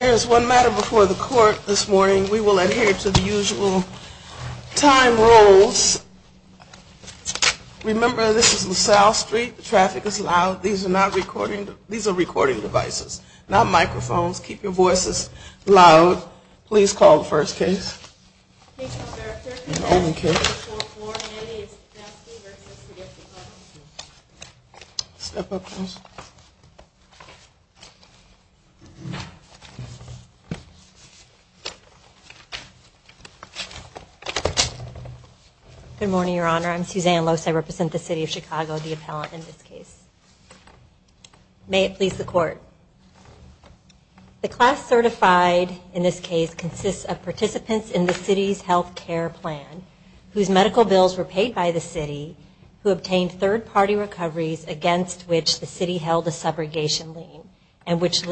There is one matter before the court this morning. We will adhere to the usual time rules. Remember this is on South Street. The traffic is loud. These are not recording. These are recording devices, not microphones. Keep your voices loud. Please call the first case. Good morning, Your Honor. I'm Suzanne Lose. I represent the City of Chicago, the appellant in this case. May it please the Court. The class certified in this case consists of participants in the City's health care plan, whose medical bills were paid by the City, who obtained third-party recoveries against which the City held a subrogation lien, and which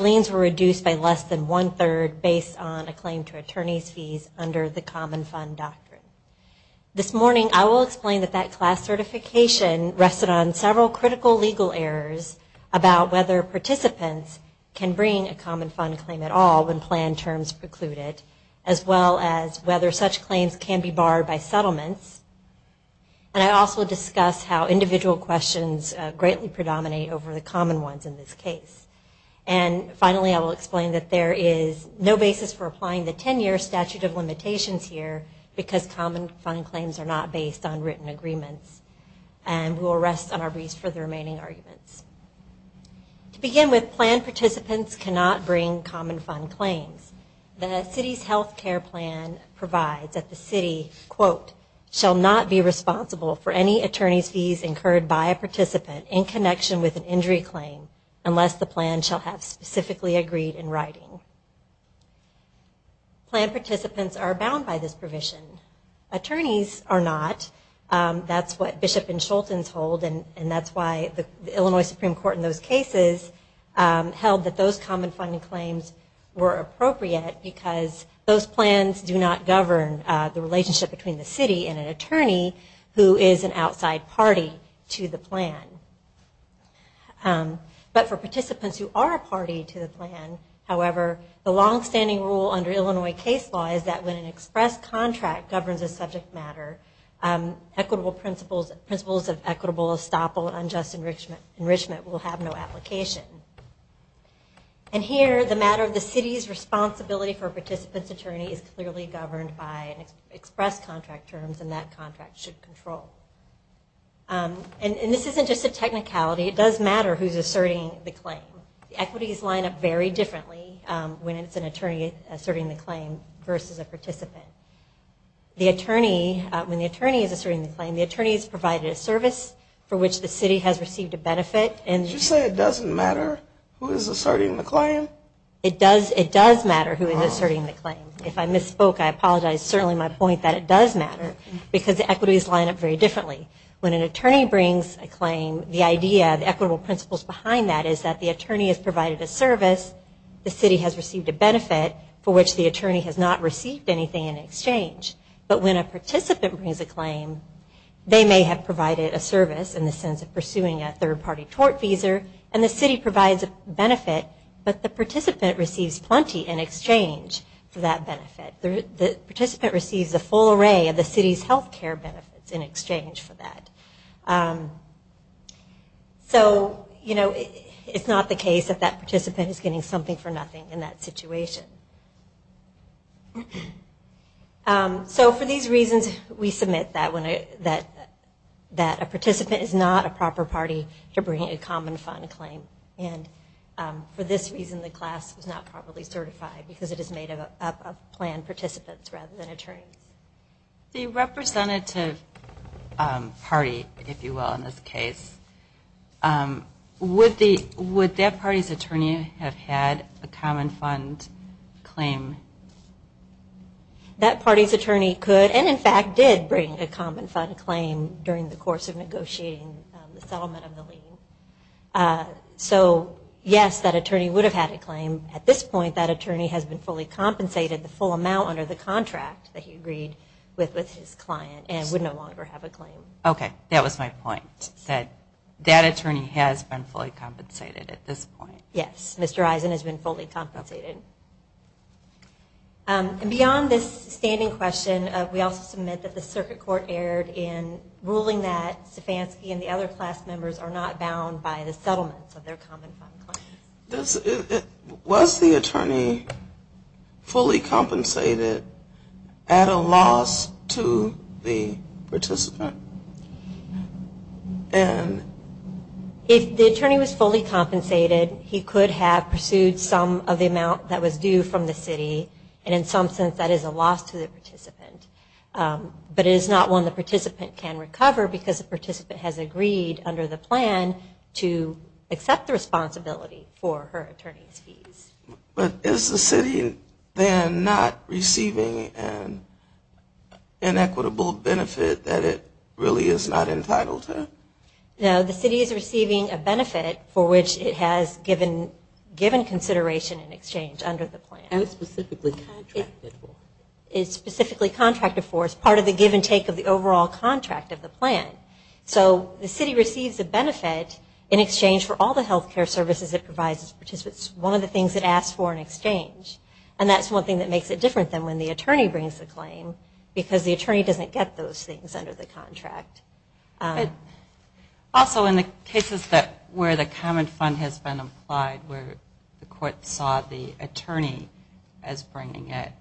liens were reduced by less than one-third based on a claim to attorney's fees under the Common Fund Doctrine. This morning I will explain that that class certification rested on several critical legal errors about whether participants can bring a Common Fund claim at all when planned terms preclude it, as well as whether such claims can be barred by settlements. And I will also discuss how individual questions greatly predominate over the common ones in this case. And finally, I will explain that there is no basis for applying the 10-year statute of limitations here because Common Fund claims are not based on written agreements. And we will rest on our wreaths for the remaining arguments. To begin with, planned participants cannot bring Common Fund claims. The City's health care plan provides that the City, quote, shall have specifically agreed in writing. Planned participants are bound by this provision. Attorneys are not. That's what Bishop and Scholten's hold, and that's why the Illinois Supreme Court in those cases held that those Common Fund claims were appropriate because those plans do not govern the relationship between the City and an attorney who is an outside party to the plan. But for participants who are a party to the plan, however, the longstanding rule under Illinois case law is that when an express contract governs a subject matter, equitable principles of equitable, estoppel, and unjust enrichment will have no application. And here, the matter of the City's responsibility for a participant's attorney is clearly governed by express contract terms, and that does matter who is asserting the claim. Equities line up very differently when it's an attorney asserting the claim versus a participant. When the attorney is asserting the claim, the attorney has provided a service for which the City has received a benefit. Did you say it doesn't matter who is asserting the claim? It does matter who is asserting the claim. If I misspoke, I apologize. Certainly my point that it does matter because the equities line up very differently. When an attorney brings a claim, the idea, the equitable principles behind that is that the attorney has provided a service, the City has received a benefit for which the attorney has not received anything in exchange. But when a participant brings a claim, they may have provided a service in the sense of pursuing a third-party tort visa, and the City provides a benefit, but the participant receives plenty in exchange for that benefit. The participant receives a full array of the City's health care benefits in exchange for that. So, you know, it's not the case that that participant is getting something for nothing in that situation. So for these reasons, we submit that a participant is not a proper party to bringing a common fund claim. And for this reason, the class is not properly certified because it is made up of planned participants rather than attorneys. The representative party, if you will, in this case, would that party's attorney have had a common fund claim? That party's attorney could, and in fact did, bring a common fund claim during the course of negotiating the settlement of the lien. So, yes, that attorney would have had a claim. At this point, that attorney has been fully compensated the full amount under the contract that he agreed with with his client and would no longer have a claim. Okay, that was my point, that that attorney has been fully compensated at this point. Yes, Mr. Eisen has been fully compensated. And beyond this standing question, we also submit that the Circuit Court erred in ruling that settlements of their common fund claims. Was the attorney fully compensated at a loss to the participant? If the attorney was fully compensated, he could have pursued some of the amount that was due from the city, and in some sense that is a loss to the participant. But it is not one the participant can recover because the participant has agreed under the plan to accept the responsibility for her attorney's fees. But is the city then not receiving an inequitable benefit that it really is not entitled to? No, the city is receiving a benefit for which it has given consideration in exchange under the plan. It was specifically contracted for. It's part of the give and take of the overall contract of the plan. So the city receives a benefit in exchange for all the health care services it provides its participants. It's one of the things it asks for in exchange. And that's one thing that makes it different than when the attorney brings the claim, because the attorney doesn't get those things under the contract. Also, in the cases where the common fund has been applied, where the court saw the attorney as bringing it,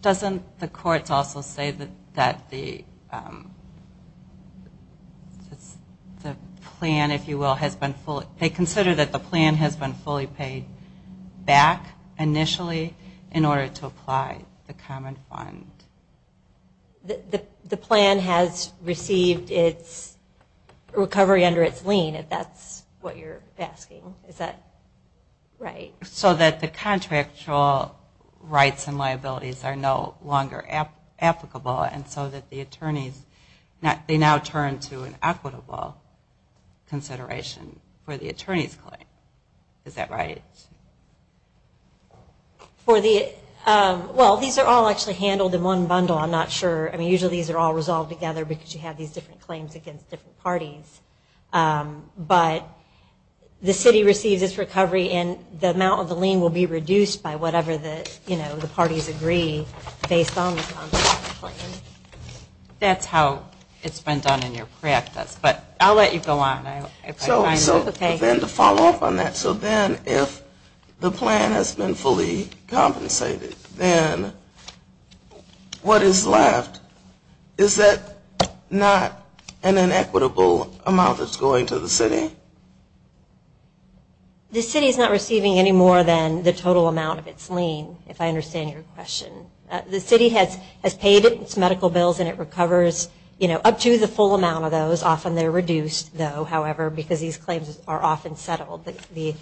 doesn't the court also say that the plan, if you will, has been fully paid back initially in order to apply the common fund? The plan has received its recovery under its lien, if that's what you're asking. Is that right? So that the contractual rights and liabilities are no longer applicable, and so that the attorneys now turn to an equitable consideration for the attorney's claim. Is that right? Well, these are all actually handled in one bundle. I'm not sure. I mean, usually these are all resolved together because you have these different claims against different parties. But the city receives its recovery, and the amount of the lien will be reduced by whatever the parties agree based on the contractual claims. That's how it's been done in your practice. But I'll let you go on. So then to follow up on that, so then if the plan has been fully compensated, then what is left, is that not an inequitable amount that's going to the city? The city is not receiving any more than the total amount of its lien, if I understand your question. The city has paid its medical bills, and it recovers up to the full amount of those. Often they're reduced, though, however, because these claims are often settled. The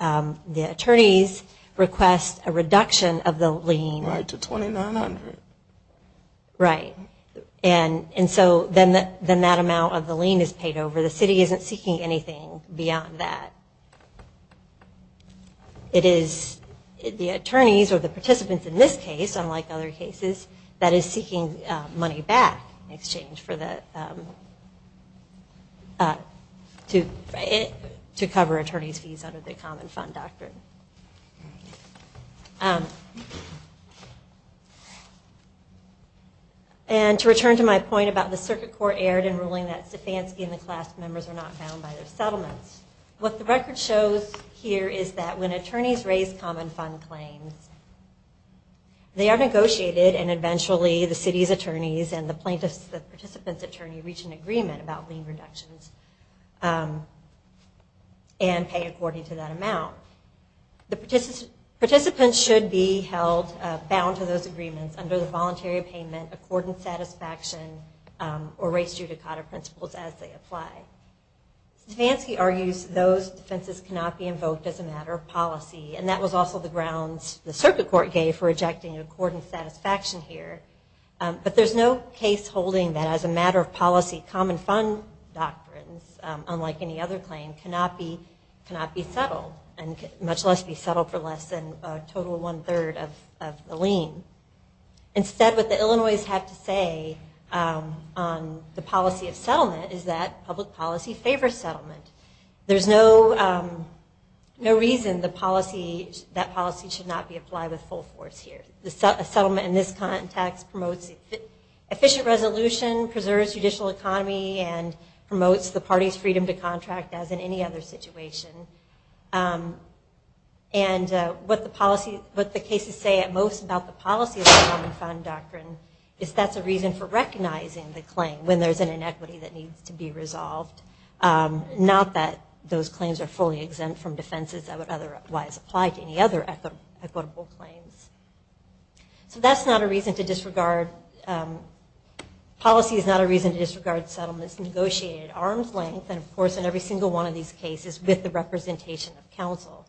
attorneys request a reduction of the lien. Right, to $2,900. Right. And so then that amount of the lien is paid over. The city isn't seeking anything beyond that. It is the attorneys or the participants in this case, unlike other cases, that is seeking money back in exchange for the, to cover attorney's fees under the common fund doctrine. And to return to my point about the circuit court erred in ruling that Stefanski and the class members are not bound by their settlements. What the record shows here is that when attorneys raise common fund claims, they are negotiated and eventually the city's attorneys and the plaintiff's, the participant's attorney reach an agreement about lien reductions and pay according to that amount. The participants should be held bound to those agreements under the voluntary payment, accordance satisfaction, or race judicata principles as they apply. Stefanski argues those defenses cannot be invoked as a matter of policy, and that was also the grounds the circuit court gave for rejecting accordance satisfaction here. But there's no case holding that as a matter of policy, common fund doctrines, unlike any other claim, cannot be settled, and much less be settled for less than a total one-third of the lien. Instead, what the Illinois have to say on the policy of settlement is that public policy favors settlement. There's no reason that policy should not be applied with full force here. A settlement in this context promotes efficient resolution, preserves judicial economy, and promotes the party's freedom to contract as in any other situation. And what the cases say at most about the policy of the common fund doctrine is that's a reason for recognizing the claim when there's an inequity that needs to be resolved, not that those claims are fully exempt from defenses that would otherwise apply to any other equitable claims. So that's not a reason to disregard, policy is not a reason to disregard settlements negotiated at arm's length, and of course in every single one of these cases with the representation of counsel.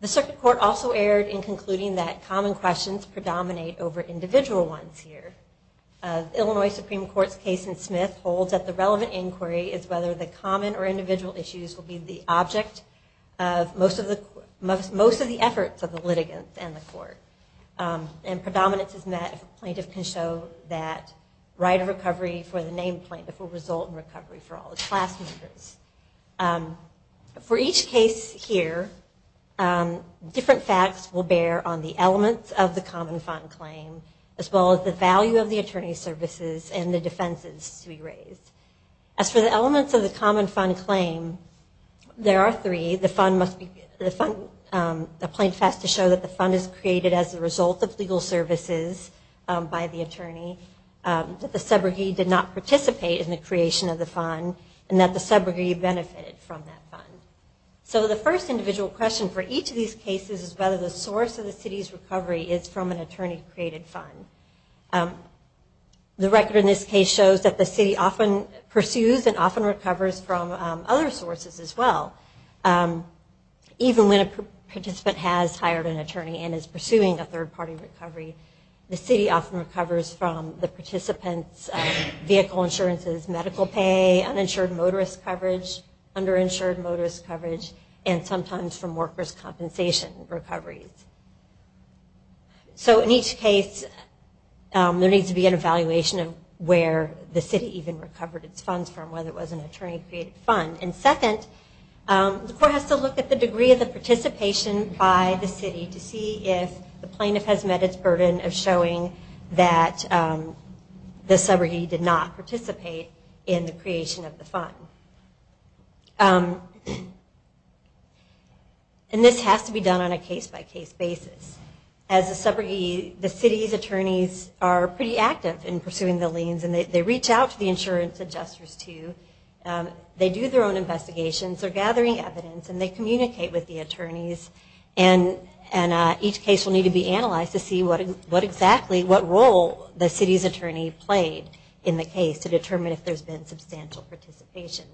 The circuit court also erred in concluding that common questions predominate over individual ones here. The Illinois Supreme Court's case in Smith holds that the relevant inquiry is whether the common or individual issues will be the object of most of the efforts of the litigants and the court. And predominance is met if a plaintiff can show that right of recovery for the named plaintiff will result in recovery for all the class members. For each case here, different facts will bear on the elements of the common fund claim as well as the value of the attorney's services and the defenses to be raised. As for the elements of the common fund claim, there are three. The fund must be, the plaintiff has to show that the fund is created as a result of legal services by the attorney, that the subrogate did not participate in the creation of the fund, and that the subrogate benefited from that fund. So the first individual question for each of these cases is whether the source of the city's recovery is from an attorney-created fund. The record in this case shows that the city often pursues and often recovers from other sources as well. Even when a participant has hired an attorney and is pursuing a third-party recovery, the city often recovers from the participant's vehicle insurances, medical pay, uninsured motorist coverage, underinsured motorist coverage, and sometimes from workers' compensation recoveries. So in each case, there needs to be an evaluation of where the city even recovered its funds from, whether it was an attorney-created fund. And second, the court has to look at the degree of the participation by the city to see if the plaintiff has met its burden of showing that the subrogate did not participate in the creation of the fund. And this has to be done on a case-by-case basis. As a subrogate, the city's attorneys are pretty active in pursuing the liens, and they reach out to the insurance adjusters too. They do their own investigations, they're gathering evidence, and they communicate with the attorneys and each case will need to be analyzed to see what exactly, what role the city's attorney played in the case to determine if there's been substantial participation.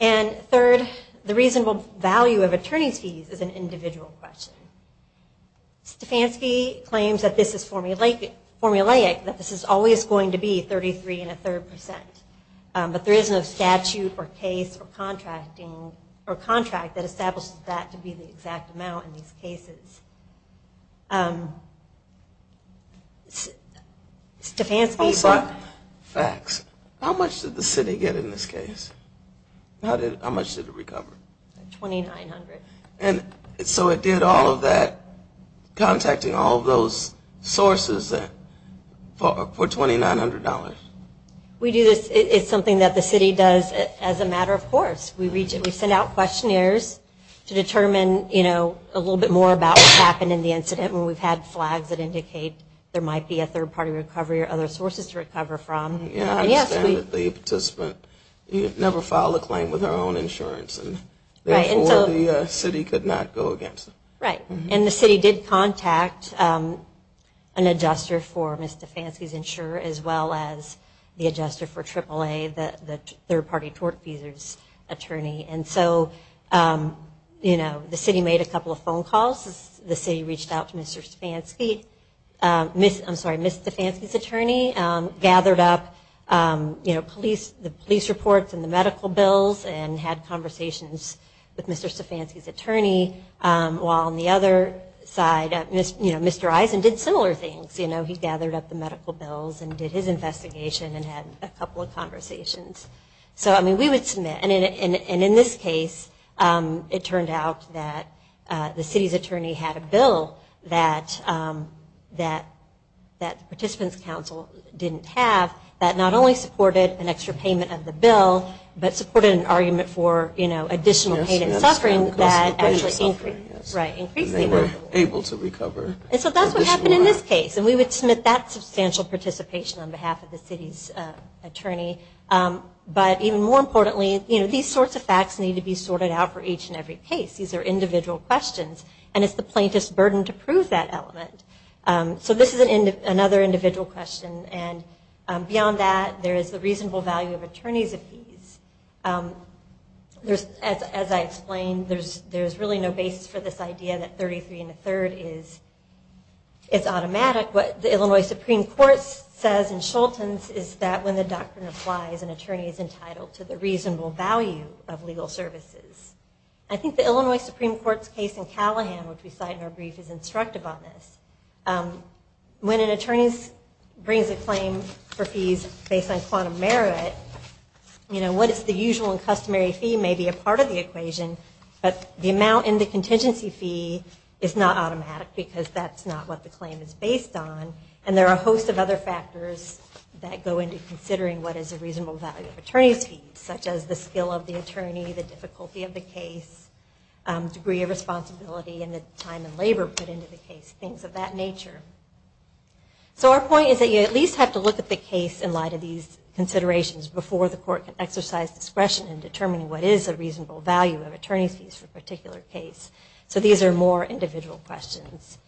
And third, the reasonable value of attorney's fees is an individual question. Stefansky claims that this is formulaic, that this is always going to be 33 and a third percent, but there isn't a statute or case or contracting or contract that establishes that to be the exact amount in these cases. Stefansky... Facts. How much did the city get in this case? How much did it recover? $2,900. And so it did all of that, contacting all of those sources for $2,900? We do this, it's something that the city does as a matter of course. We send out questionnaires to determine, you know, a little bit more about what happened in the incident when we've had flags that indicate there might be a third-party recovery or other sources to recover from. Yeah, I understand that the participant never filed a claim with her own insurance, and therefore the city could not go against it. Right, and the city did contact an adjuster for Ms. Stefansky's insurer as well as the adjuster for AAA, the third-party tort fees attorney. And so, you know, the city made a couple of phone calls. The city reached out to Mr. Stefansky, I'm sorry, Ms. Stefansky's attorney, gathered up the police reports and the medical bills and had conversations with Mr. Stefansky's attorney while on the other side, you know, Mr. Eisen did similar things. You know, he gathered up the medical bills and did his investigation and had a couple of conversations. So, I mean, we would submit. And in this case, it turned out that the city's attorney had a bill that participants' counsel didn't have that not only supported an extra payment of the bill, but supported an argument for, you know, additional pain and suffering because they were able to recover. And so that's what happened in this case, and we would submit that substantial participation on behalf of the city's attorney. But even more importantly, you know, these sorts of facts need to be sorted out for each and every case. These are individual questions, and it's the plaintiff's burden to prove that element. So this is another individual question, and beyond that, there is the reasonable value of attorneys' appease. There's, as I explained, there's really no basis for this idea that 33 and a third is automatic. What the Illinois Supreme Court says in Schulten's is that when the doctrine applies, an attorney is entitled to the reasonable value of legal services. I think the Illinois Supreme Court's case in Callahan, which we cite in our brief, is instructive on this. When an attorney brings a claim for fees based on quantum merit, you know, what is the usual and customary fee may be a part of the equation, but the amount in the contingency fee is not automatic because that's not what the claim is based on. And there are a host of other factors that go into considering what is a reasonable value of attorneys' fees, such as the skill of the attorney, the difficulty of the case, degree of responsibility, and the time and labor put into the case, things of that nature. So our point is that you at least have to look at the case in light of these considerations before the court can exercise discretion in determining what is a reasonable value of attorneys' fees for a particular case. So these are more individual questions.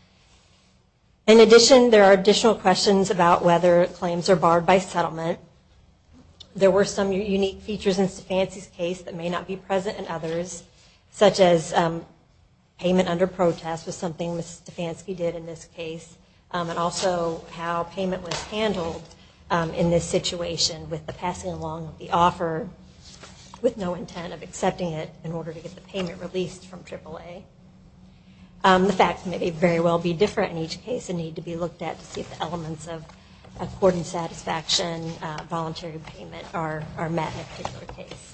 In addition, there are additional questions about whether claims are barred by settlement. There were some unique features in Stefansi's case that may not be present in others, such as payment under protest was something Ms. Stefansi did in this case, and also how payment was handled in this situation with the passing along of the offer with no intent of accepting it in order to get the payment released from AAA. The facts may very well be different in each case and need to be looked at to see if the elements of court and satisfaction voluntary payment are met in a particular case.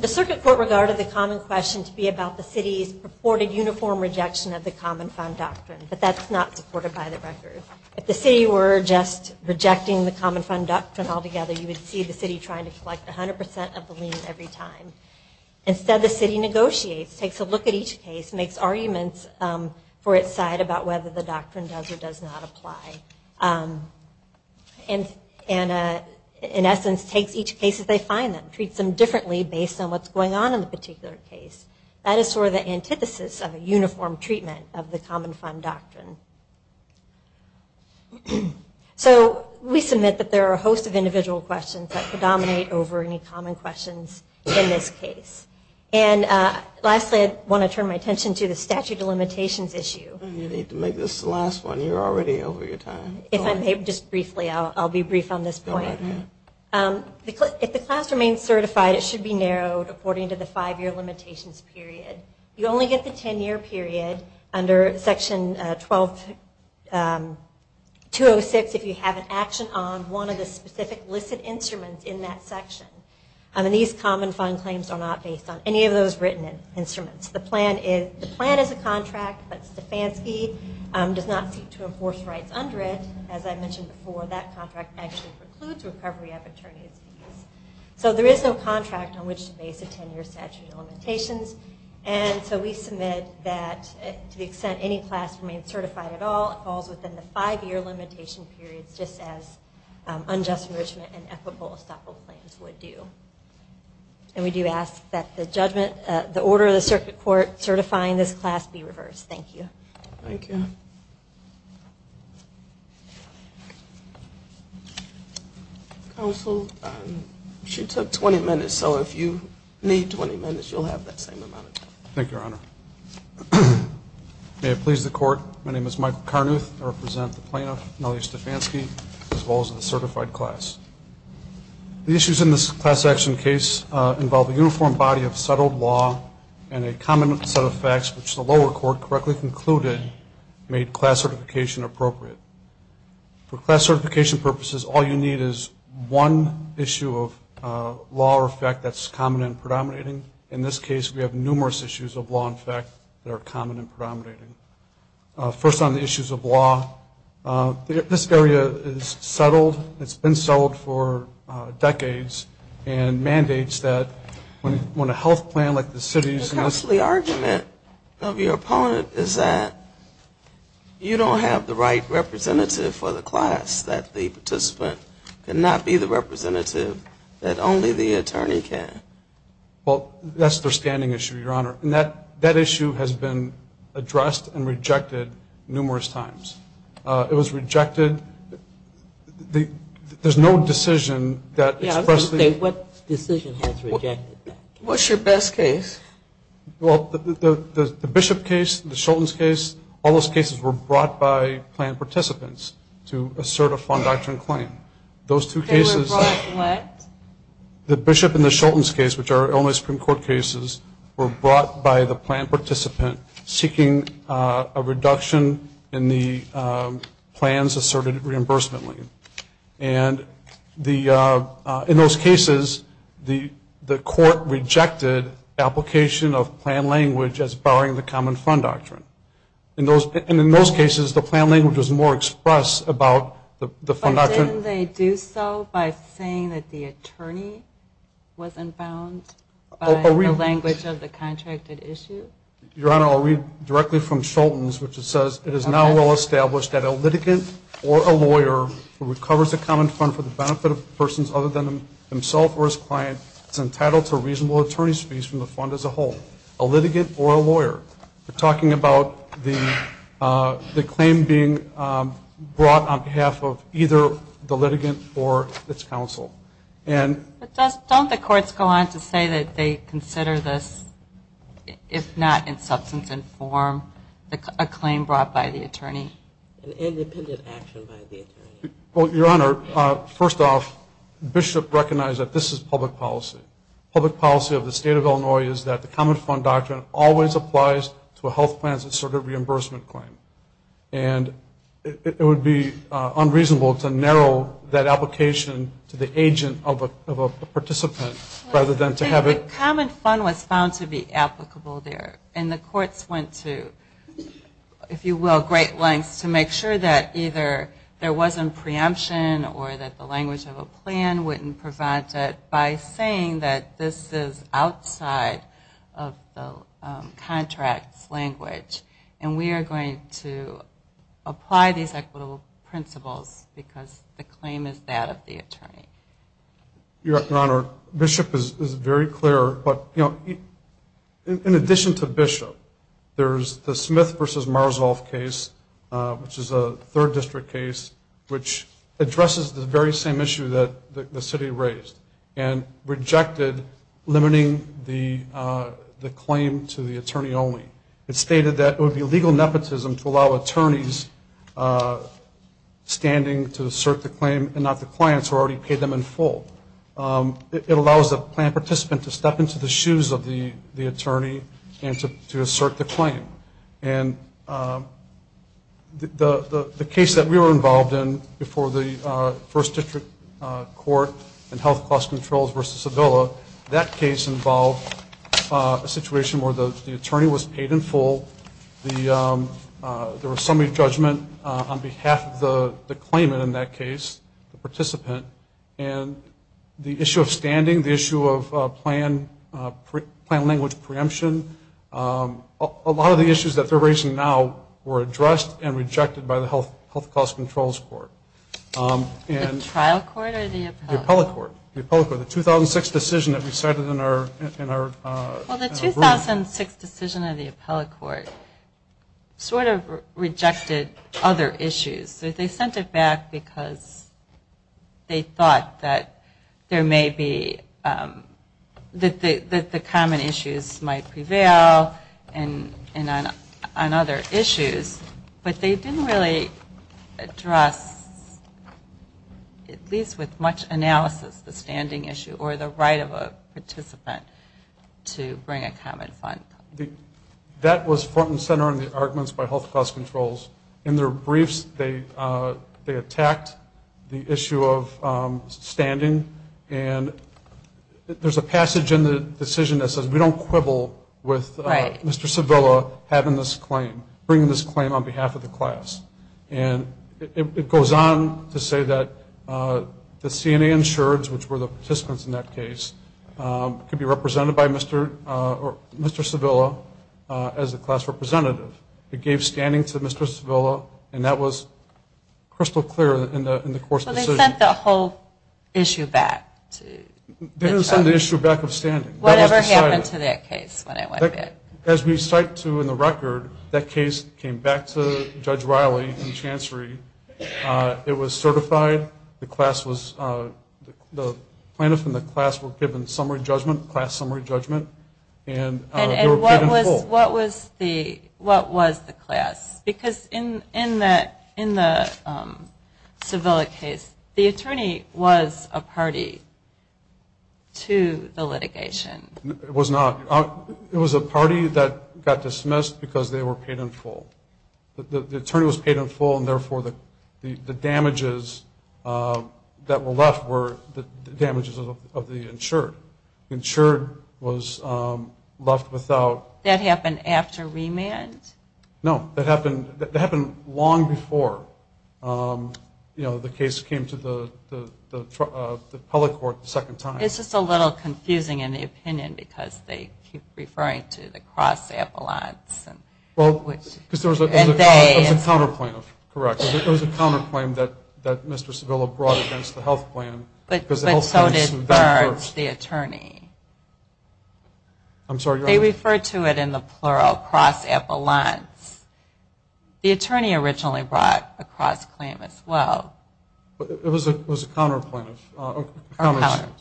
The circuit court regarded the common question to be about the city's purported uniform rejection of the common fund doctrine, but that's not supported by the record. If the city were just rejecting the common fund doctrine altogether, you would see the city trying to collect 100% of the lien every time. Instead, the city negotiates, takes a look at each case, makes arguments for its side about whether the doctrine does or does not apply, and in essence takes each case as they find them, treats them differently based on what's going on in the particular case. That is sort of the antithesis of a uniform treatment of the common fund doctrine. So we submit that there are a host of individual questions that predominate over any common questions in this case. And lastly, I want to turn my attention to the statute of limitations issue. You need to make this the last one. You're already over your time. If I may, just briefly, I'll be brief on this point. If the class remains certified, it should be narrowed according to the five-year limitations period. You only get the ten-year period under Section 206 if you have an action on one of the specific listed instruments in that section. And these common fund claims are not based on any of those written instruments. The plan is a contract, but Stefanski does not seek to enforce rights under it. As I mentioned before, that contract actually precludes recovery of attorney's fees. So there is no contract on which to base a ten-year statute of limitations. And so we submit that to the extent any class remains certified at all, it falls within the five-year limitation period, just as unjust enrichment and equitable estoppel claims would do. And we do ask that the judgment, the order of the circuit court certifying this class be reversed. Thank you. Thank you. Counsel, she took 20 minutes, so if you need 20 minutes, you'll have that same amount of time. Thank you, Your Honor. May it please the Court, my name is Michael Carnuth. I represent the plaintiff, Nellie Stefanski, as well as the certified class. The issues in this class action case involve a uniform body of settled law and a common set of facts which the lower court correctly concluded made class certification appropriate. For class certification purposes, all you need is one issue of law or fact that's common and predominating. In this case, we have numerous issues of law and fact that are common and predominating. First on the issues of law, this area is settled. It's been settled for decades and mandates that when a health plan like the city's The costly argument of your opponent is that you don't have the right representative for the class, that the participant cannot be the representative, that only the attorney can. Well, that's their standing issue, Your Honor. And that issue has been addressed and rejected numerous times. It was rejected. There's no decision that expressly Yeah, I was going to say, what decision has rejected that? What's your best case? Well, the Bishop case, the Shultz case, all those cases were brought by plan participants to assert a fond doctrine claim. Those two cases They were brought what? The Bishop and the Shultz case, which are Illinois Supreme Court cases, were brought by the plan participant seeking a reduction in the plans asserted reimbursement claim. And in those cases, the court rejected application of plan language as barring the common fond doctrine. And in those cases, the plan language was more expressed about the fond doctrine. Didn't they do so by saying that the attorney wasn't bound by the language of the contracted issue? Your Honor, I'll read directly from Shultz, which says, It is now well established that a litigant or a lawyer who recovers a common fond for the benefit of persons other than himself or his client is entitled to reasonable attorney's fees from the fond as a whole. A litigant or a lawyer. We're talking about the claim being brought on behalf of either the litigant or its counsel. Don't the courts go on to say that they consider this, if not in substance and form, a claim brought by the attorney? An independent action by the attorney. Well, Your Honor, first off, Bishop recognized that this is public policy. Public policy of the state of Illinois is that the common fond doctrine always applies to a health plan as a sort of reimbursement claim. And it would be unreasonable to narrow that application to the agent of a participant rather than to have it. The common fond was found to be applicable there. And the courts went to, if you will, great lengths to make sure that either there wasn't preemption or that the language of a plan wouldn't prevent it by saying that this is outside of the contract's language. And we are going to apply these equitable principles because the claim is that of the attorney. Your Honor, Bishop is very clear, but, you know, in addition to Bishop, there's the Smith v. Marzolf case, which is a third district case, which addresses the very same issue that the city raised and rejected limiting the claim to the attorney only. It stated that it would be legal nepotism to allow attorneys standing to assert the claim and not the clients who already paid them in full. It allows the plan participant to step into the shoes of the attorney and to assert the claim. And the case that we were involved in before the first district court and health cost controls versus Sevilla, that case involved a situation where the attorney was paid in full. There was some re-judgment on behalf of the claimant in that case, the participant, and the issue of standing, the issue of plan language preemption, a lot of the issues that they're raising now were addressed and rejected by the health cost controls court. The trial court or the appellate court? The appellate court. The 2006 decision that we cited in our ruling. Well, the 2006 decision of the appellate court sort of rejected other issues. They sent it back because they thought that there may be, that the common issues might prevail and on other issues, but they didn't really address, at least with much analysis, the standing issue or the right of a participant to bring a common front. That was front and center on the arguments by health cost controls. In their briefs, they attacked the issue of standing, and there's a passage in the decision that says we don't quibble with Mr. Sevilla having this claim, bringing this claim on behalf of the class. And it goes on to say that the CNA insureds, which were the participants in that case, could be represented by Mr. Sevilla as a class representative. It gave standing to Mr. Sevilla, and that was crystal clear in the court's decision. So they sent the whole issue back to the trial? They didn't send the issue back of standing. Whatever happened to that case when it went back? As we cite to in the record, that case came back to Judge Riley in chancery. It was certified. The class was, the plaintiff and the class were given summary judgment, class summary judgment. And what was the class? Because in the Sevilla case, the attorney was a party to the litigation. It was not. It was a party that got dismissed because they were paid in full. The attorney was paid in full, and therefore the damages that were left were the damages of the insured. The insured was left without. That happened after remand? No. That happened long before the case came to the public court the second time. It's just a little confusing in the opinion because they keep referring to the cross-ambulance. Well, because there was a counter-claim. Correct. There was a counter-claim that Mr. Sevilla brought against the health plan. But so did Burns, the attorney. They refer to it in the plural, cross-ambulance. The attorney originally brought a cross-claim as well. It was a counter-claim. But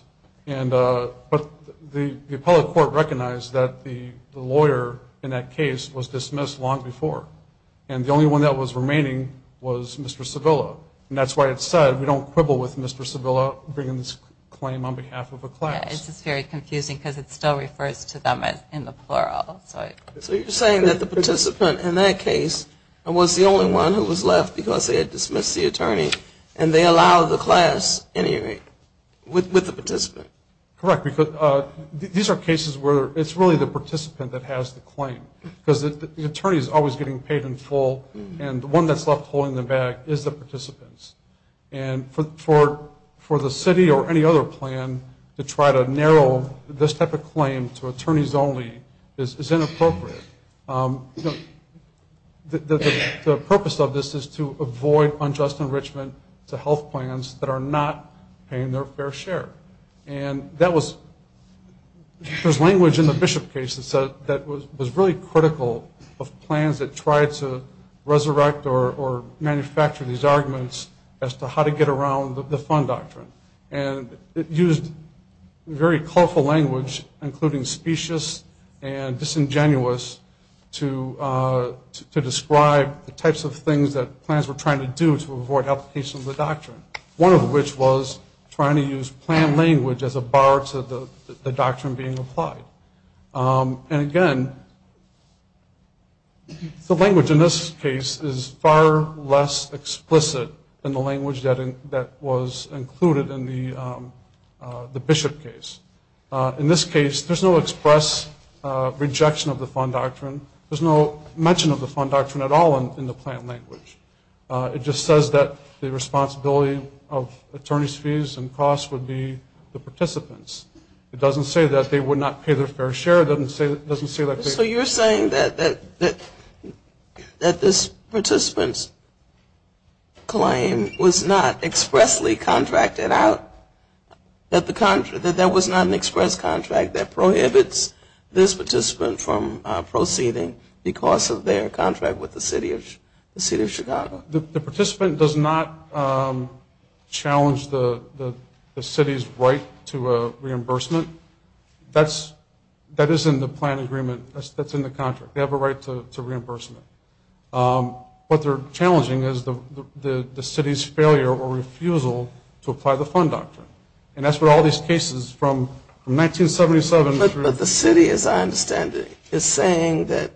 the public court recognized that the lawyer in that case was dismissed long before. And the only one that was remaining was Mr. Sevilla. And that's why it said we don't quibble with Mr. Sevilla bringing this claim on behalf of a class. It's just very confusing because it still refers to them in the plural. So you're saying that the participant in that case was the only one who was left because they had dismissed the attorney, and they allowed the class anyway with the participant? Correct. These are cases where it's really the participant that has the claim because the attorney is always getting paid in full, and the one that's left holding them back is the participants. And for the city or any other plan to try to narrow this type of claim to attorneys only is inappropriate. The purpose of this is to avoid unjust enrichment to health plans that are not paying their fair share. And there's language in the Bishop case that was really critical of plans that tried to resurrect or manufacture these arguments as to how to get around the fund doctrine. And it used very colorful language, including specious and disingenuous, to describe the types of things that plans were trying to do to avoid application of the doctrine, one of which was trying to use plan language as a bar to the doctrine being applied. And, again, the language in this case is far less explicit than the language that was included in the Bishop case. In this case, there's no express rejection of the fund doctrine. There's no mention of the fund doctrine at all in the plan language. It just says that the responsibility of attorney's fees and costs would be the participants. It doesn't say that they would not pay their fair share. It doesn't say that they... So you're saying that this participant's claim was not expressly contracted out, that there was not an express contract that prohibits this participant from proceeding because of their contract with the city of Chicago? The participant does not challenge the city's right to reimbursement. That is in the plan agreement. That's in the contract. They have a right to reimbursement. What they're challenging is the city's failure or refusal to apply the fund doctrine. And that's what all these cases from 1977 through... But the city, as I understand it, is saying that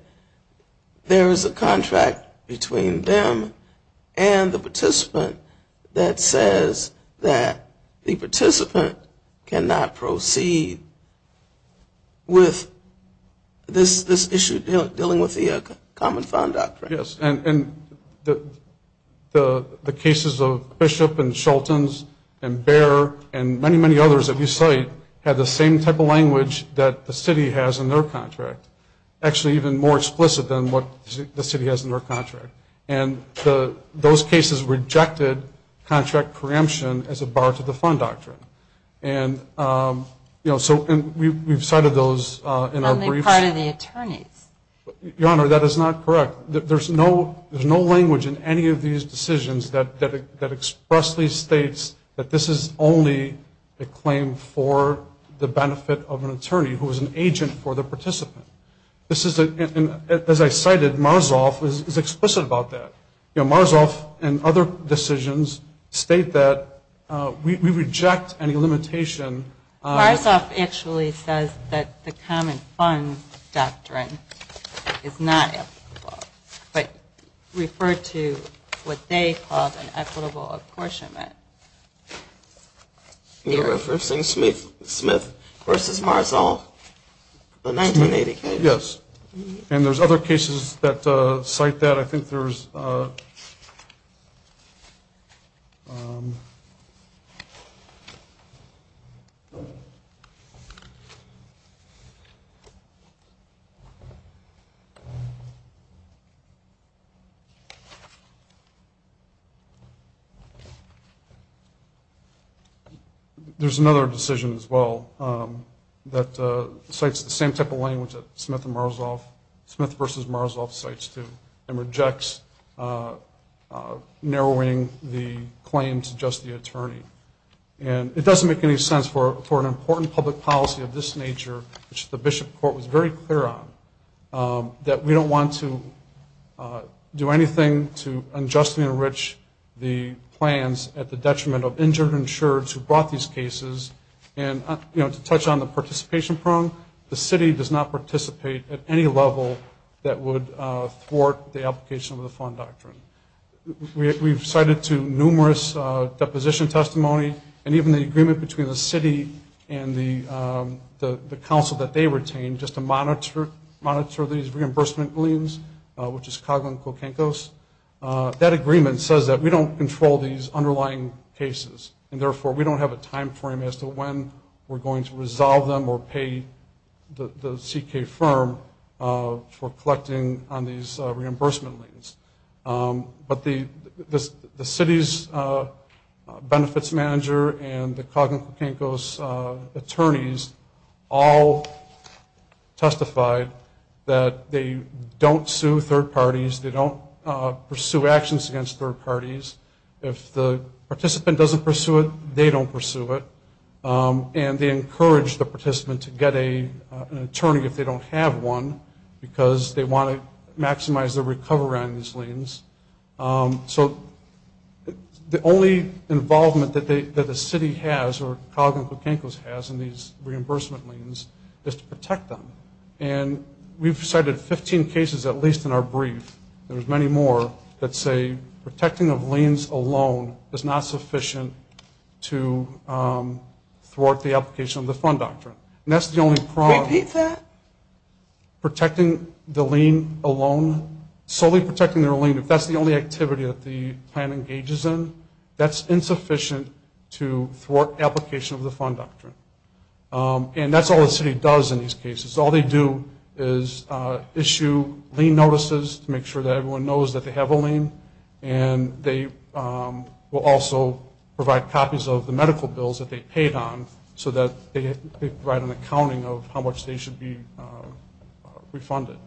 there is a contract between them and the participant that says that the participant cannot proceed with this issue, dealing with the common fund doctrine. Yes, and the cases of Bishop and Shelton's and Behr and many, many others that you cite have the same type of language that the city has in their contract, actually even more explicit than what the city has in their contract. And those cases rejected contract preemption as a bar to the fund doctrine. And, you know, so we've cited those in our briefs. And they're part of the attorneys. Your Honor, that is not correct. There's no language in any of these decisions that expressly states that this is only a claim for the benefit of an attorney who is an agent for the participant. This is, as I cited, Marzoff is explicit about that. You know, Marzoff and other decisions state that we reject any limitation. Marzoff actually says that the common fund doctrine is not equitable but referred to what they call an equitable apportionment. You're referencing Smith v. Marzoff, the 1980 case? Yes, and there's other cases that cite that. I think there's another decision as well that cites the same type of language that Smith v. Marzoff cites, too, and rejects narrowing the claim to just the attorney. And it doesn't make any sense for an important public policy of this nature, which the Bishop Court was very clear on, that we don't want to do anything to unjustly enrich the plans at the detriment of injured insureds who brought these cases. And, you know, to touch on the participation prong, the city does not participate at any level that would thwart the application of the fund doctrine. We've cited to numerous deposition testimony, and even the agreement between the city and the council that they retain, just to monitor these reimbursement liens, which is CAGA and COCENCOS, that agreement says that we don't control these underlying cases, and therefore we don't have a time frame as to when we're going to resolve them or pay the C.K. firm for collecting on these reimbursement liens. But the city's benefits manager and the COCENCOS attorneys all testified that they don't sue third parties, they don't pursue actions against third parties. If the participant doesn't pursue it, they don't pursue it. And they encourage the participant to get an attorney if they don't have one because they want to maximize their recovery on these liens. So the only involvement that the city has, or CAGA and COCENCOS has, in these reimbursement liens is to protect them. And we've cited 15 cases, at least in our brief. There's many more that say protecting of liens alone is not sufficient to thwart the application of the fund doctrine. And that's the only problem. Repeat that. Protecting the lien alone, solely protecting their lien, if that's the only activity that the plan engages in, that's insufficient to thwart application of the fund doctrine. And that's all the city does in these cases. All they do is issue lien notices to make sure that everyone knows that they have a lien, and they will also provide copies of the medical bills that they paid on so that they can provide an accounting of how much they should be refunded.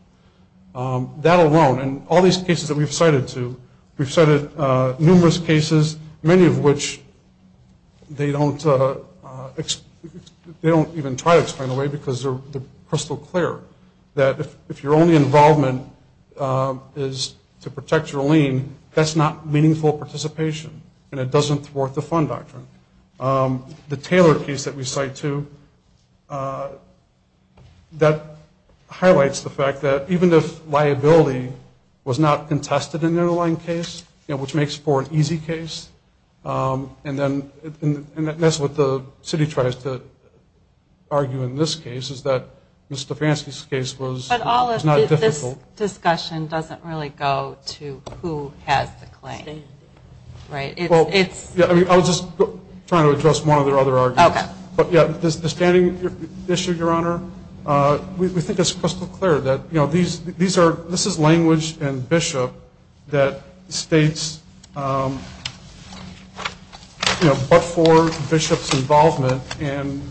That alone, and all these cases that we've cited too, we've cited numerous cases, many of which they don't even try to explain away because they're crystal clear, that if your only involvement is to protect your lien, that's not meaningful participation, and it doesn't thwart the fund doctrine. The Taylor case that we cite too, that highlights the fact that even if liability was not contested in the underlying case, which makes for an easy case, and that's what the city tries to argue in this case, is that Ms. Stefanski's case was not difficult. But all of this discussion doesn't really go to who has the claim. I was just trying to address one of their other arguments. The standing issue, Your Honor, we think it's crystal clear that this is language and bishop that states, you know, but for bishop's involvement and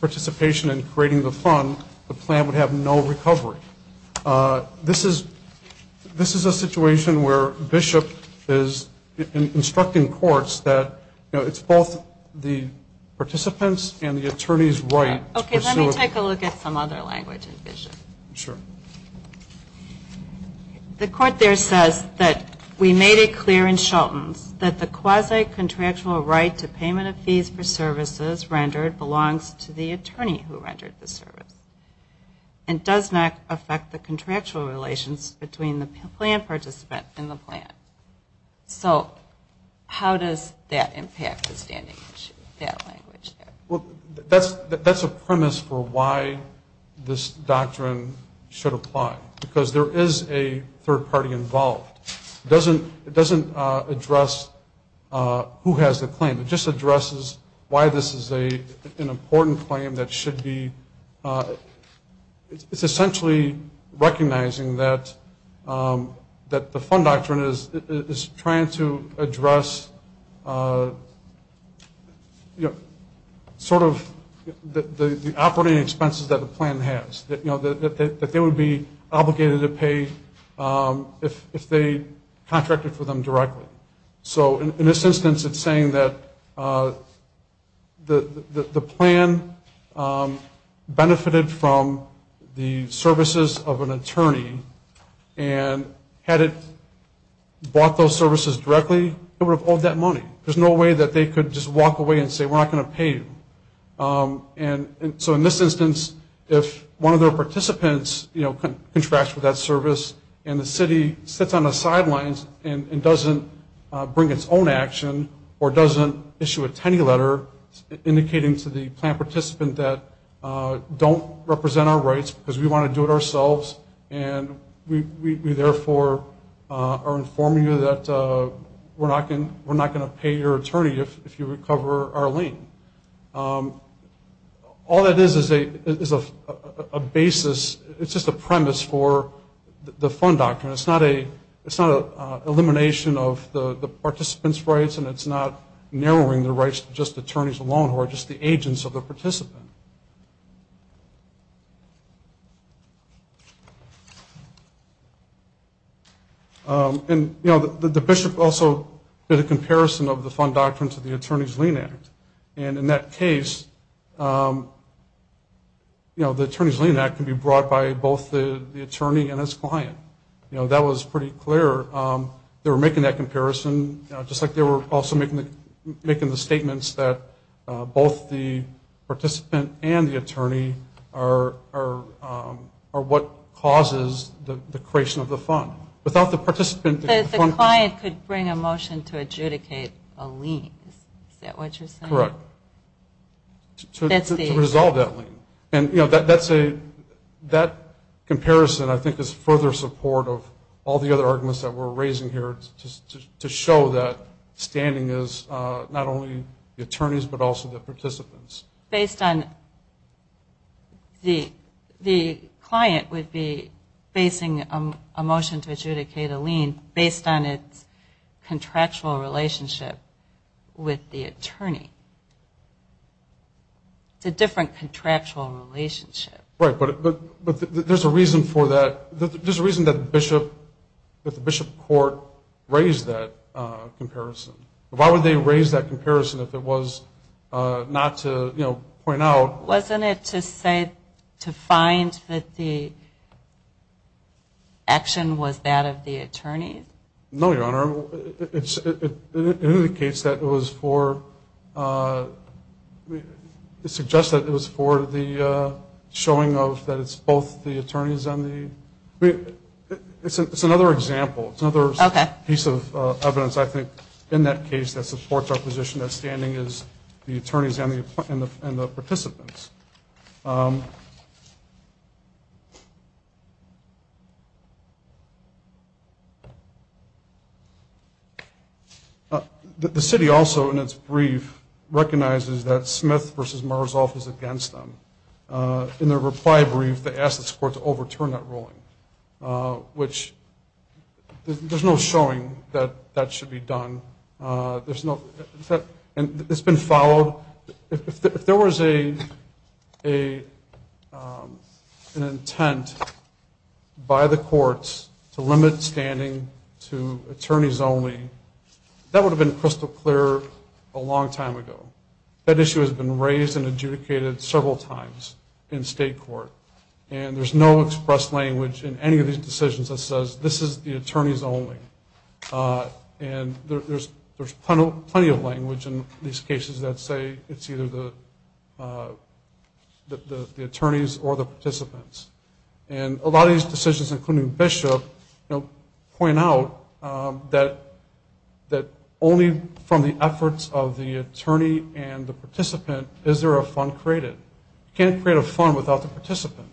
participation in creating the fund, the plan would have no recovery. This is a situation where bishop is instructing courts that, you know, it's both the participant's and the attorney's right to pursue it. Okay, let me take a look at some other language in bishop. Sure. The court there says that we made it clear in Shelton's that the quasi-contractual right to payment of fees for services rendered belongs to the attorney who rendered the service and does not affect the contractual relations between the plan participant and the plan. So how does that impact the standing issue, that language there? That's a premise for why this doctrine should apply, because there is a third party involved. It doesn't address who has the claim. It just addresses why this is an important claim that should be, It's essentially recognizing that the fund doctrine is trying to address, you know, sort of the operating expenses that the plan has, you know, that they would be obligated to pay if they contracted for them directly. So in this instance, it's saying that the plan benefited from the services of an attorney and had it bought those services directly, it would have owed that money. There's no way that they could just walk away and say, we're not going to pay you. And so in this instance, if one of their participants, you know, contracts for that service and the city sits on the sidelines and doesn't bring its own action or doesn't issue a ten-year letter indicating to the plan participant that don't represent our rights because we want to do it ourselves and we therefore are informing you that we're not going to pay your attorney if you recover our lien. All that is is a basis, it's just a premise for the fund doctrine. It's not an elimination of the participant's rights and it's not narrowing the rights to just attorneys alone or just the agents of the participant. And, you know, the bishop also did a comparison of the fund doctrine to the Attorney's Lien Act. And in that case, you know, the Attorney's Lien Act can be brought by both the attorney and his client. You know, that was pretty clear. They were making that comparison, just like they were also making the statements are what causes the creation of the fund. Without the participant... But if the client could bring a motion to adjudicate a lien, is that what you're saying? Correct. To resolve that lien. And, you know, that comparison I think is further support of all the other arguments that we're raising here to show that standing is not only the attorneys but also the participants. Based on the client would be basing a motion to adjudicate a lien based on its contractual relationship with the attorney. It's a different contractual relationship. Right, but there's a reason for that. There's a reason that the bishop court raised that comparison. Why would they raise that comparison if it was not to, you know, point out... Wasn't it to say to find that the action was that of the attorney? No, Your Honor. It indicates that it was for... It suggests that it was for the showing of that it's both the attorneys and the... It's another example. It's another piece of evidence I think in that case that supports our position that standing is the attorneys and the participants. The city also in its brief recognizes that Smith v. Marzoff is against them. In their reply brief, they asked this court to overturn that ruling, which there's no showing that that should be done. There's no... And it's been followed. If there was an intent by the courts to limit standing to attorneys only, that would have been crystal clear a long time ago. That issue has been raised and adjudicated several times in state court, and there's no expressed language in any of these decisions that says this is the attorneys only. And there's plenty of language in these cases that say it's either the attorneys or the participants. And a lot of these decisions, including Bishop, point out that only from the efforts of the attorney and the participant is there a fund created. You can't create a fund without the participant.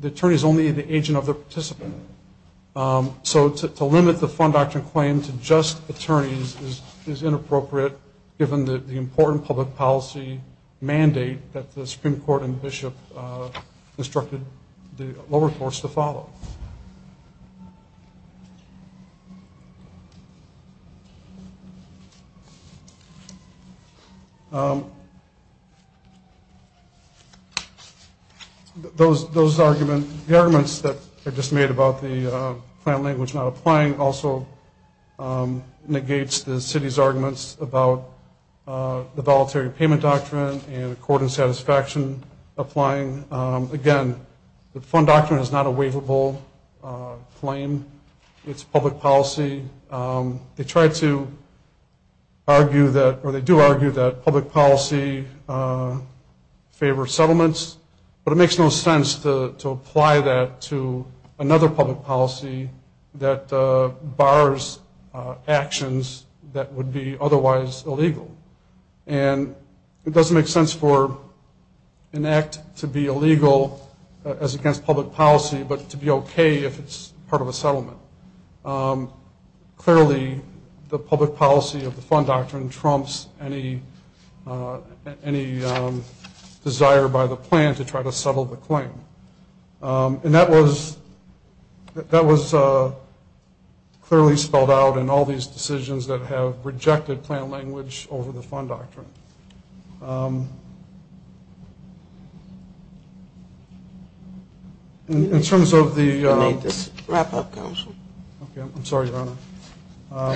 The attorney is only the agent of the participant. So to limit the fund doctrine claim to just attorneys is inappropriate, given the important public policy mandate that the Supreme Court and Bishop instructed the lower courts to follow. Those arguments that were just made about the plan language not applying also negates the city's arguments about the Voluntary Payment Doctrine and Accord and Satisfaction applying. Again, the fund doctrine is not a waivable claim. It's public policy. They try to argue that, or they do argue that public policy favors settlements, but it makes no sense to apply that to another public policy that bars actions that would be otherwise illegal. And it doesn't make sense for an act to be illegal as against public policy, but to be okay if it's part of a settlement. Clearly, the public policy of the fund doctrine trumps any desire by the plan to try to settle the claim. And that was clearly spelled out in all these decisions that have rejected plan language over the fund doctrine. Okay. In terms of the- I need to wrap up, Counsel. Okay. I'm sorry, Your Honor.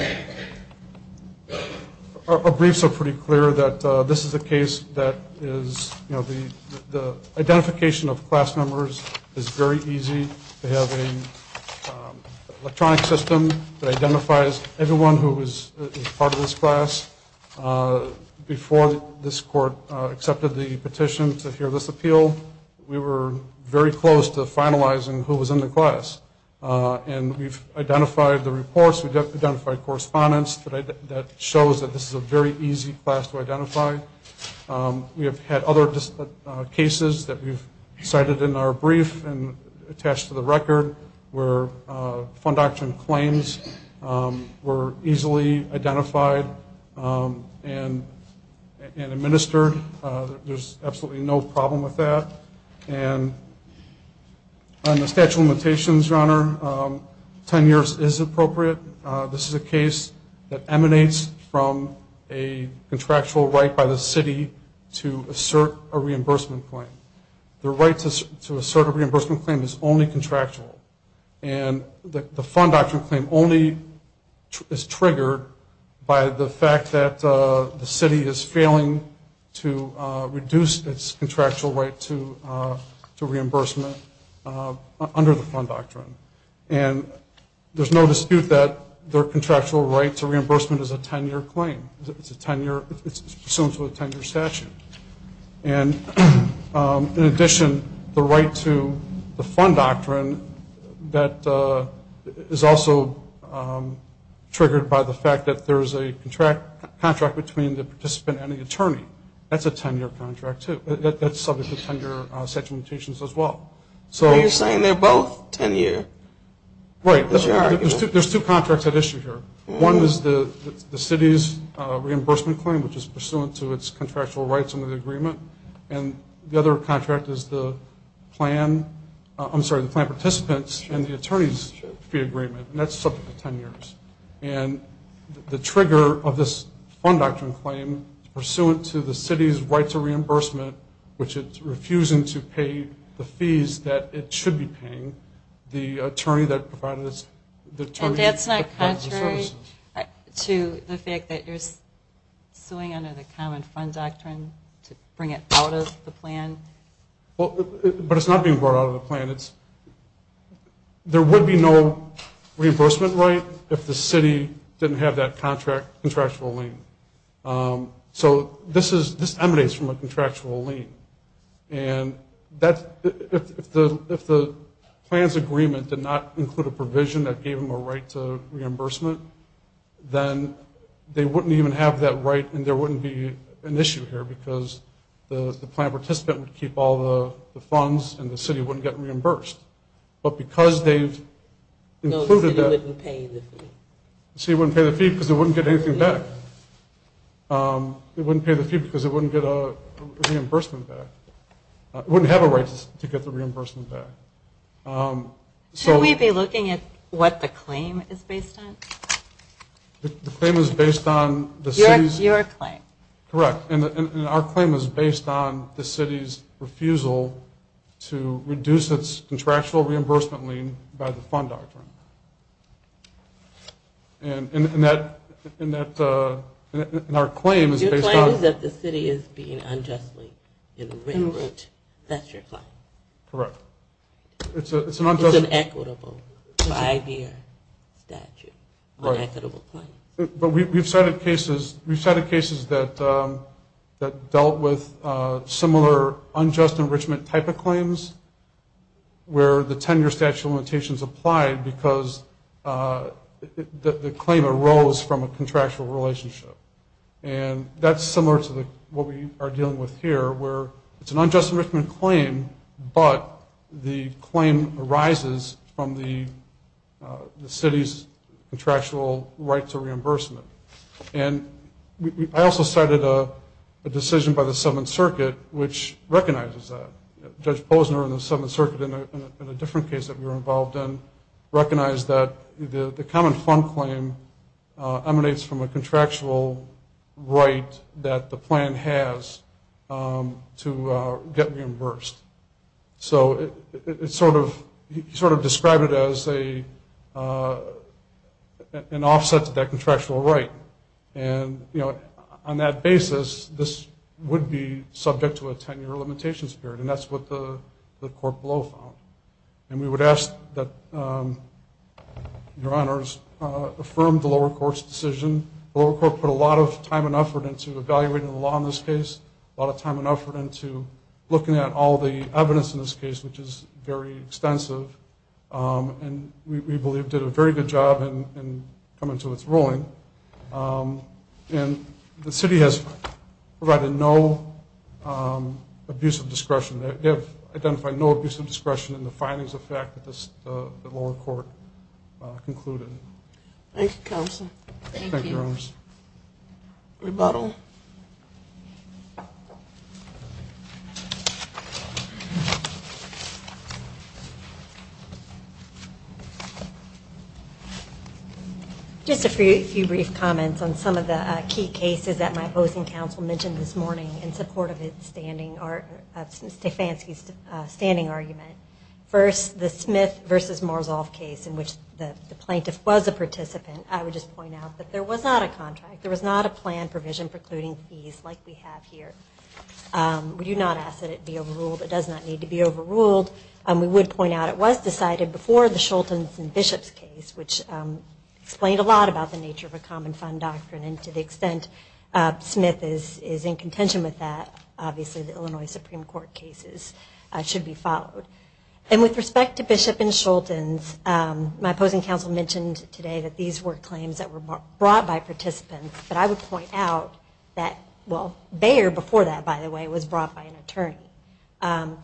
Our briefs are pretty clear that this is a case that is, you know, the identification of class members is very easy. They have an electronic system that identifies everyone who was part of this class. Before this court accepted the petition to hear this appeal, we were very close to finalizing who was in the class. And we've identified the reports. We've identified correspondence that shows that this is a very easy class to identify. We have had other cases that we've cited in our brief and attached to the record where fund doctrine claims were easily identified and administered. There's absolutely no problem with that. And on the statute of limitations, Your Honor, 10 years is appropriate. This is a case that emanates from a contractual right by the city to assert a reimbursement claim. The right to assert a reimbursement claim is only contractual. And the fund doctrine claim only is triggered by the fact that the city is failing to reduce its contractual right to reimbursement under the fund doctrine. And there's no dispute that their contractual right to reimbursement is a 10-year claim. It's assumed to be a 10-year statute. And in addition, the right to the fund doctrine, that is also triggered by the fact that there is a contract between the participant and the attorney. That's a 10-year contract too. That's subject to 10-year statute of limitations as well. So you're saying they're both 10-year? Right. There's two contracts at issue here. One is the city's reimbursement claim, which is pursuant to its contractual rights under the agreement. And the other contract is the plan participants and the attorney's fee agreement. And that's subject to 10 years. And the trigger of this fund doctrine claim is pursuant to the city's right to reimbursement, which is refusing to pay the fees that it should be paying the attorney that provided it. And that's not contrary to the fact that you're suing under the common fund doctrine to bring it out of the plan? But it's not being brought out of the plan. There would be no reimbursement right if the city didn't have that contractual lien. So this emanates from a contractual lien. And if the plan's agreement did not include a provision that gave them a right to reimbursement, then they wouldn't even have that right and there wouldn't be an issue here because the plan participant would keep all the funds and the city wouldn't get reimbursed. But because they've included that. No, the city wouldn't pay the fee. The city wouldn't pay the fee because it wouldn't get anything back. It wouldn't pay the fee because it wouldn't get a reimbursement back. It wouldn't have a right to get the reimbursement back. Should we be looking at what the claim is based on? The claim is based on the city's? Your claim. Correct. And our claim is based on the city's refusal to reduce its contractual reimbursement lien by the fund doctrine. And our claim is based on? Your claim is that the city is being unjustly enriched. Correct. That's your claim. Correct. It's an unjust. It's an equitable five-year statute. Right. On equitable claims. But we've cited cases that dealt with similar unjust enrichment type of claims where the 10-year statute of limitations applied because the claim arose from a contractual relationship. And that's similar to what we are dealing with here where it's an unjust enrichment claim, but the claim arises from the city's contractual right to reimbursement. And I also cited a decision by the Seventh Circuit which recognizes that. Judge Posner in the Seventh Circuit in a different case that we were involved in So he sort of described it as an offset to that contractual right. And on that basis, this would be subject to a 10-year limitation period, and that's what the court below found. And we would ask that your honors affirm the lower court's decision. The lower court put a lot of time and effort into evaluating the law in this case, a lot of time and effort into looking at all the evidence in this case, which is very extensive, and we believe did a very good job in coming to its ruling. And the city has provided no abuse of discretion. They have identified no abuse of discretion in the findings of fact that the lower court concluded. Thank you, counsel. Thank you. Thank you, your honors. Rebuttal. Just a few brief comments on some of the key cases that my opposing counsel mentioned this morning in support of Stefanski's standing argument. First, the Smith v. Morozov case in which the plaintiff was a participant. I would just point out that there was not a contract. There was not a plan provision precluding fees like we have here. We do not ask that it be overruled. It does not need to be overruled. We would point out it was decided before the Shultz and Bishop's case, which explained a lot about the nature of a common fund doctrine, and to the extent Smith is in contention with that, obviously the Illinois Supreme Court cases should be followed. And with respect to Bishop and Shultz, my opposing counsel mentioned today that these were claims that were brought by participants, but I would point out that, well, Beyer before that, by the way, was brought by an attorney. In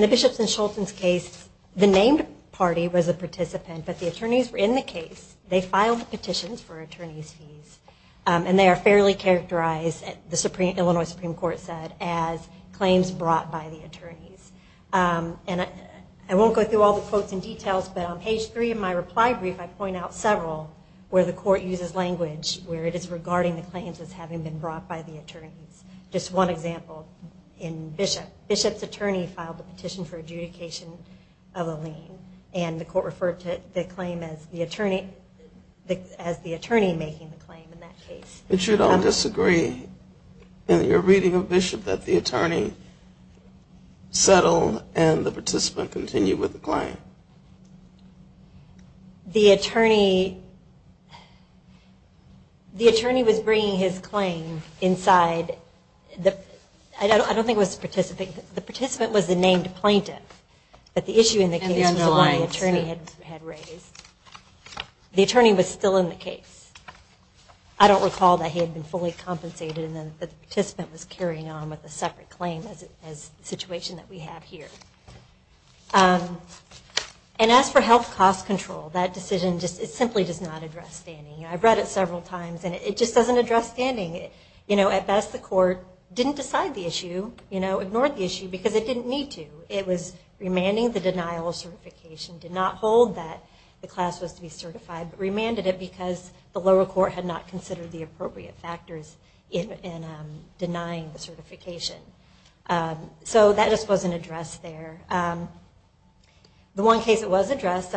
the Bishop and Shultz case, the named party was a participant, but the attorneys were in the case. They filed petitions for attorney's fees, and they are fairly characterized, the Illinois Supreme Court said, as claims brought by the attorneys. And I won't go through all the quotes and details, but on page three of my reply brief I point out several where the court uses language where it is regarding the claims as having been brought by the attorneys. Just one example in Bishop. Bishop's attorney filed a petition for adjudication of a lien, and the court referred to the claim as the attorney making the claim in that case. But you don't disagree in your reading of Bishop that the attorney settled and the participant continued with the claim? The attorney was bringing his claim inside. I don't think it was the participant. The participant was the named plaintiff, but the issue in the case was the one the attorney had raised. The attorney was still in the case. I don't recall that he had been fully compensated and that the participant was carrying on with a separate claim as the situation that we have here. And as for health cost control, that decision simply does not address standing. I've read it several times, and it just doesn't address standing. At best the court didn't decide the issue, ignored the issue, because it didn't need to. It was remanding the denial of certification, did not hold that the class was to be certified, but remanded it because the lower court had not considered the appropriate factors in denying the certification. So that just wasn't addressed there. The one case that was addressed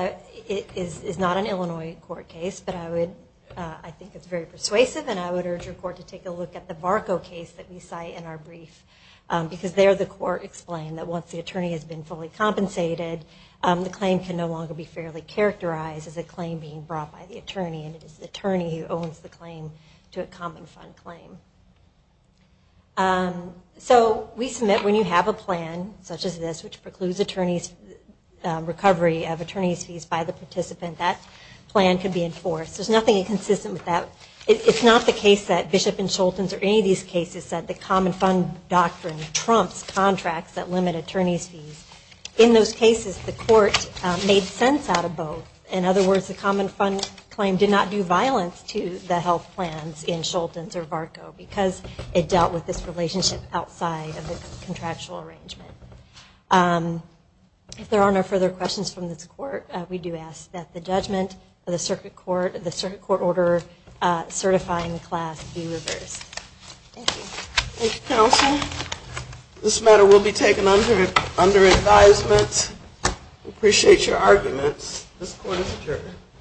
is not an Illinois court case, but I think it's very persuasive, and I would urge your court to take a look at the Barco case that we cite in our brief, because there the court explained that once the attorney has been fully compensated, the claim can no longer be fairly characterized as a claim being brought by the attorney, and it is the attorney who owns the claim to a common fund claim. So we submit when you have a plan such as this, which precludes attorney's recovery of attorney's fees by the participant, that plan can be enforced. There's nothing inconsistent with that. It's not the case that Bishop and Schulten's or any of these cases that the common fund doctrine trumps contracts that limit attorney's fees. In those cases, the court made sense out of both. In other words, the common fund claim did not do violence to the health plans in Schulten's or Barco because it dealt with this relationship outside of the contractual arrangement. If there are no further questions from this court, we do ask that the judgment of the circuit court, the circuit court order certifying the class be reversed. Thank you. Thank you, counsel. This matter will be taken under advisement. We appreciate your arguments. This court is adjourned.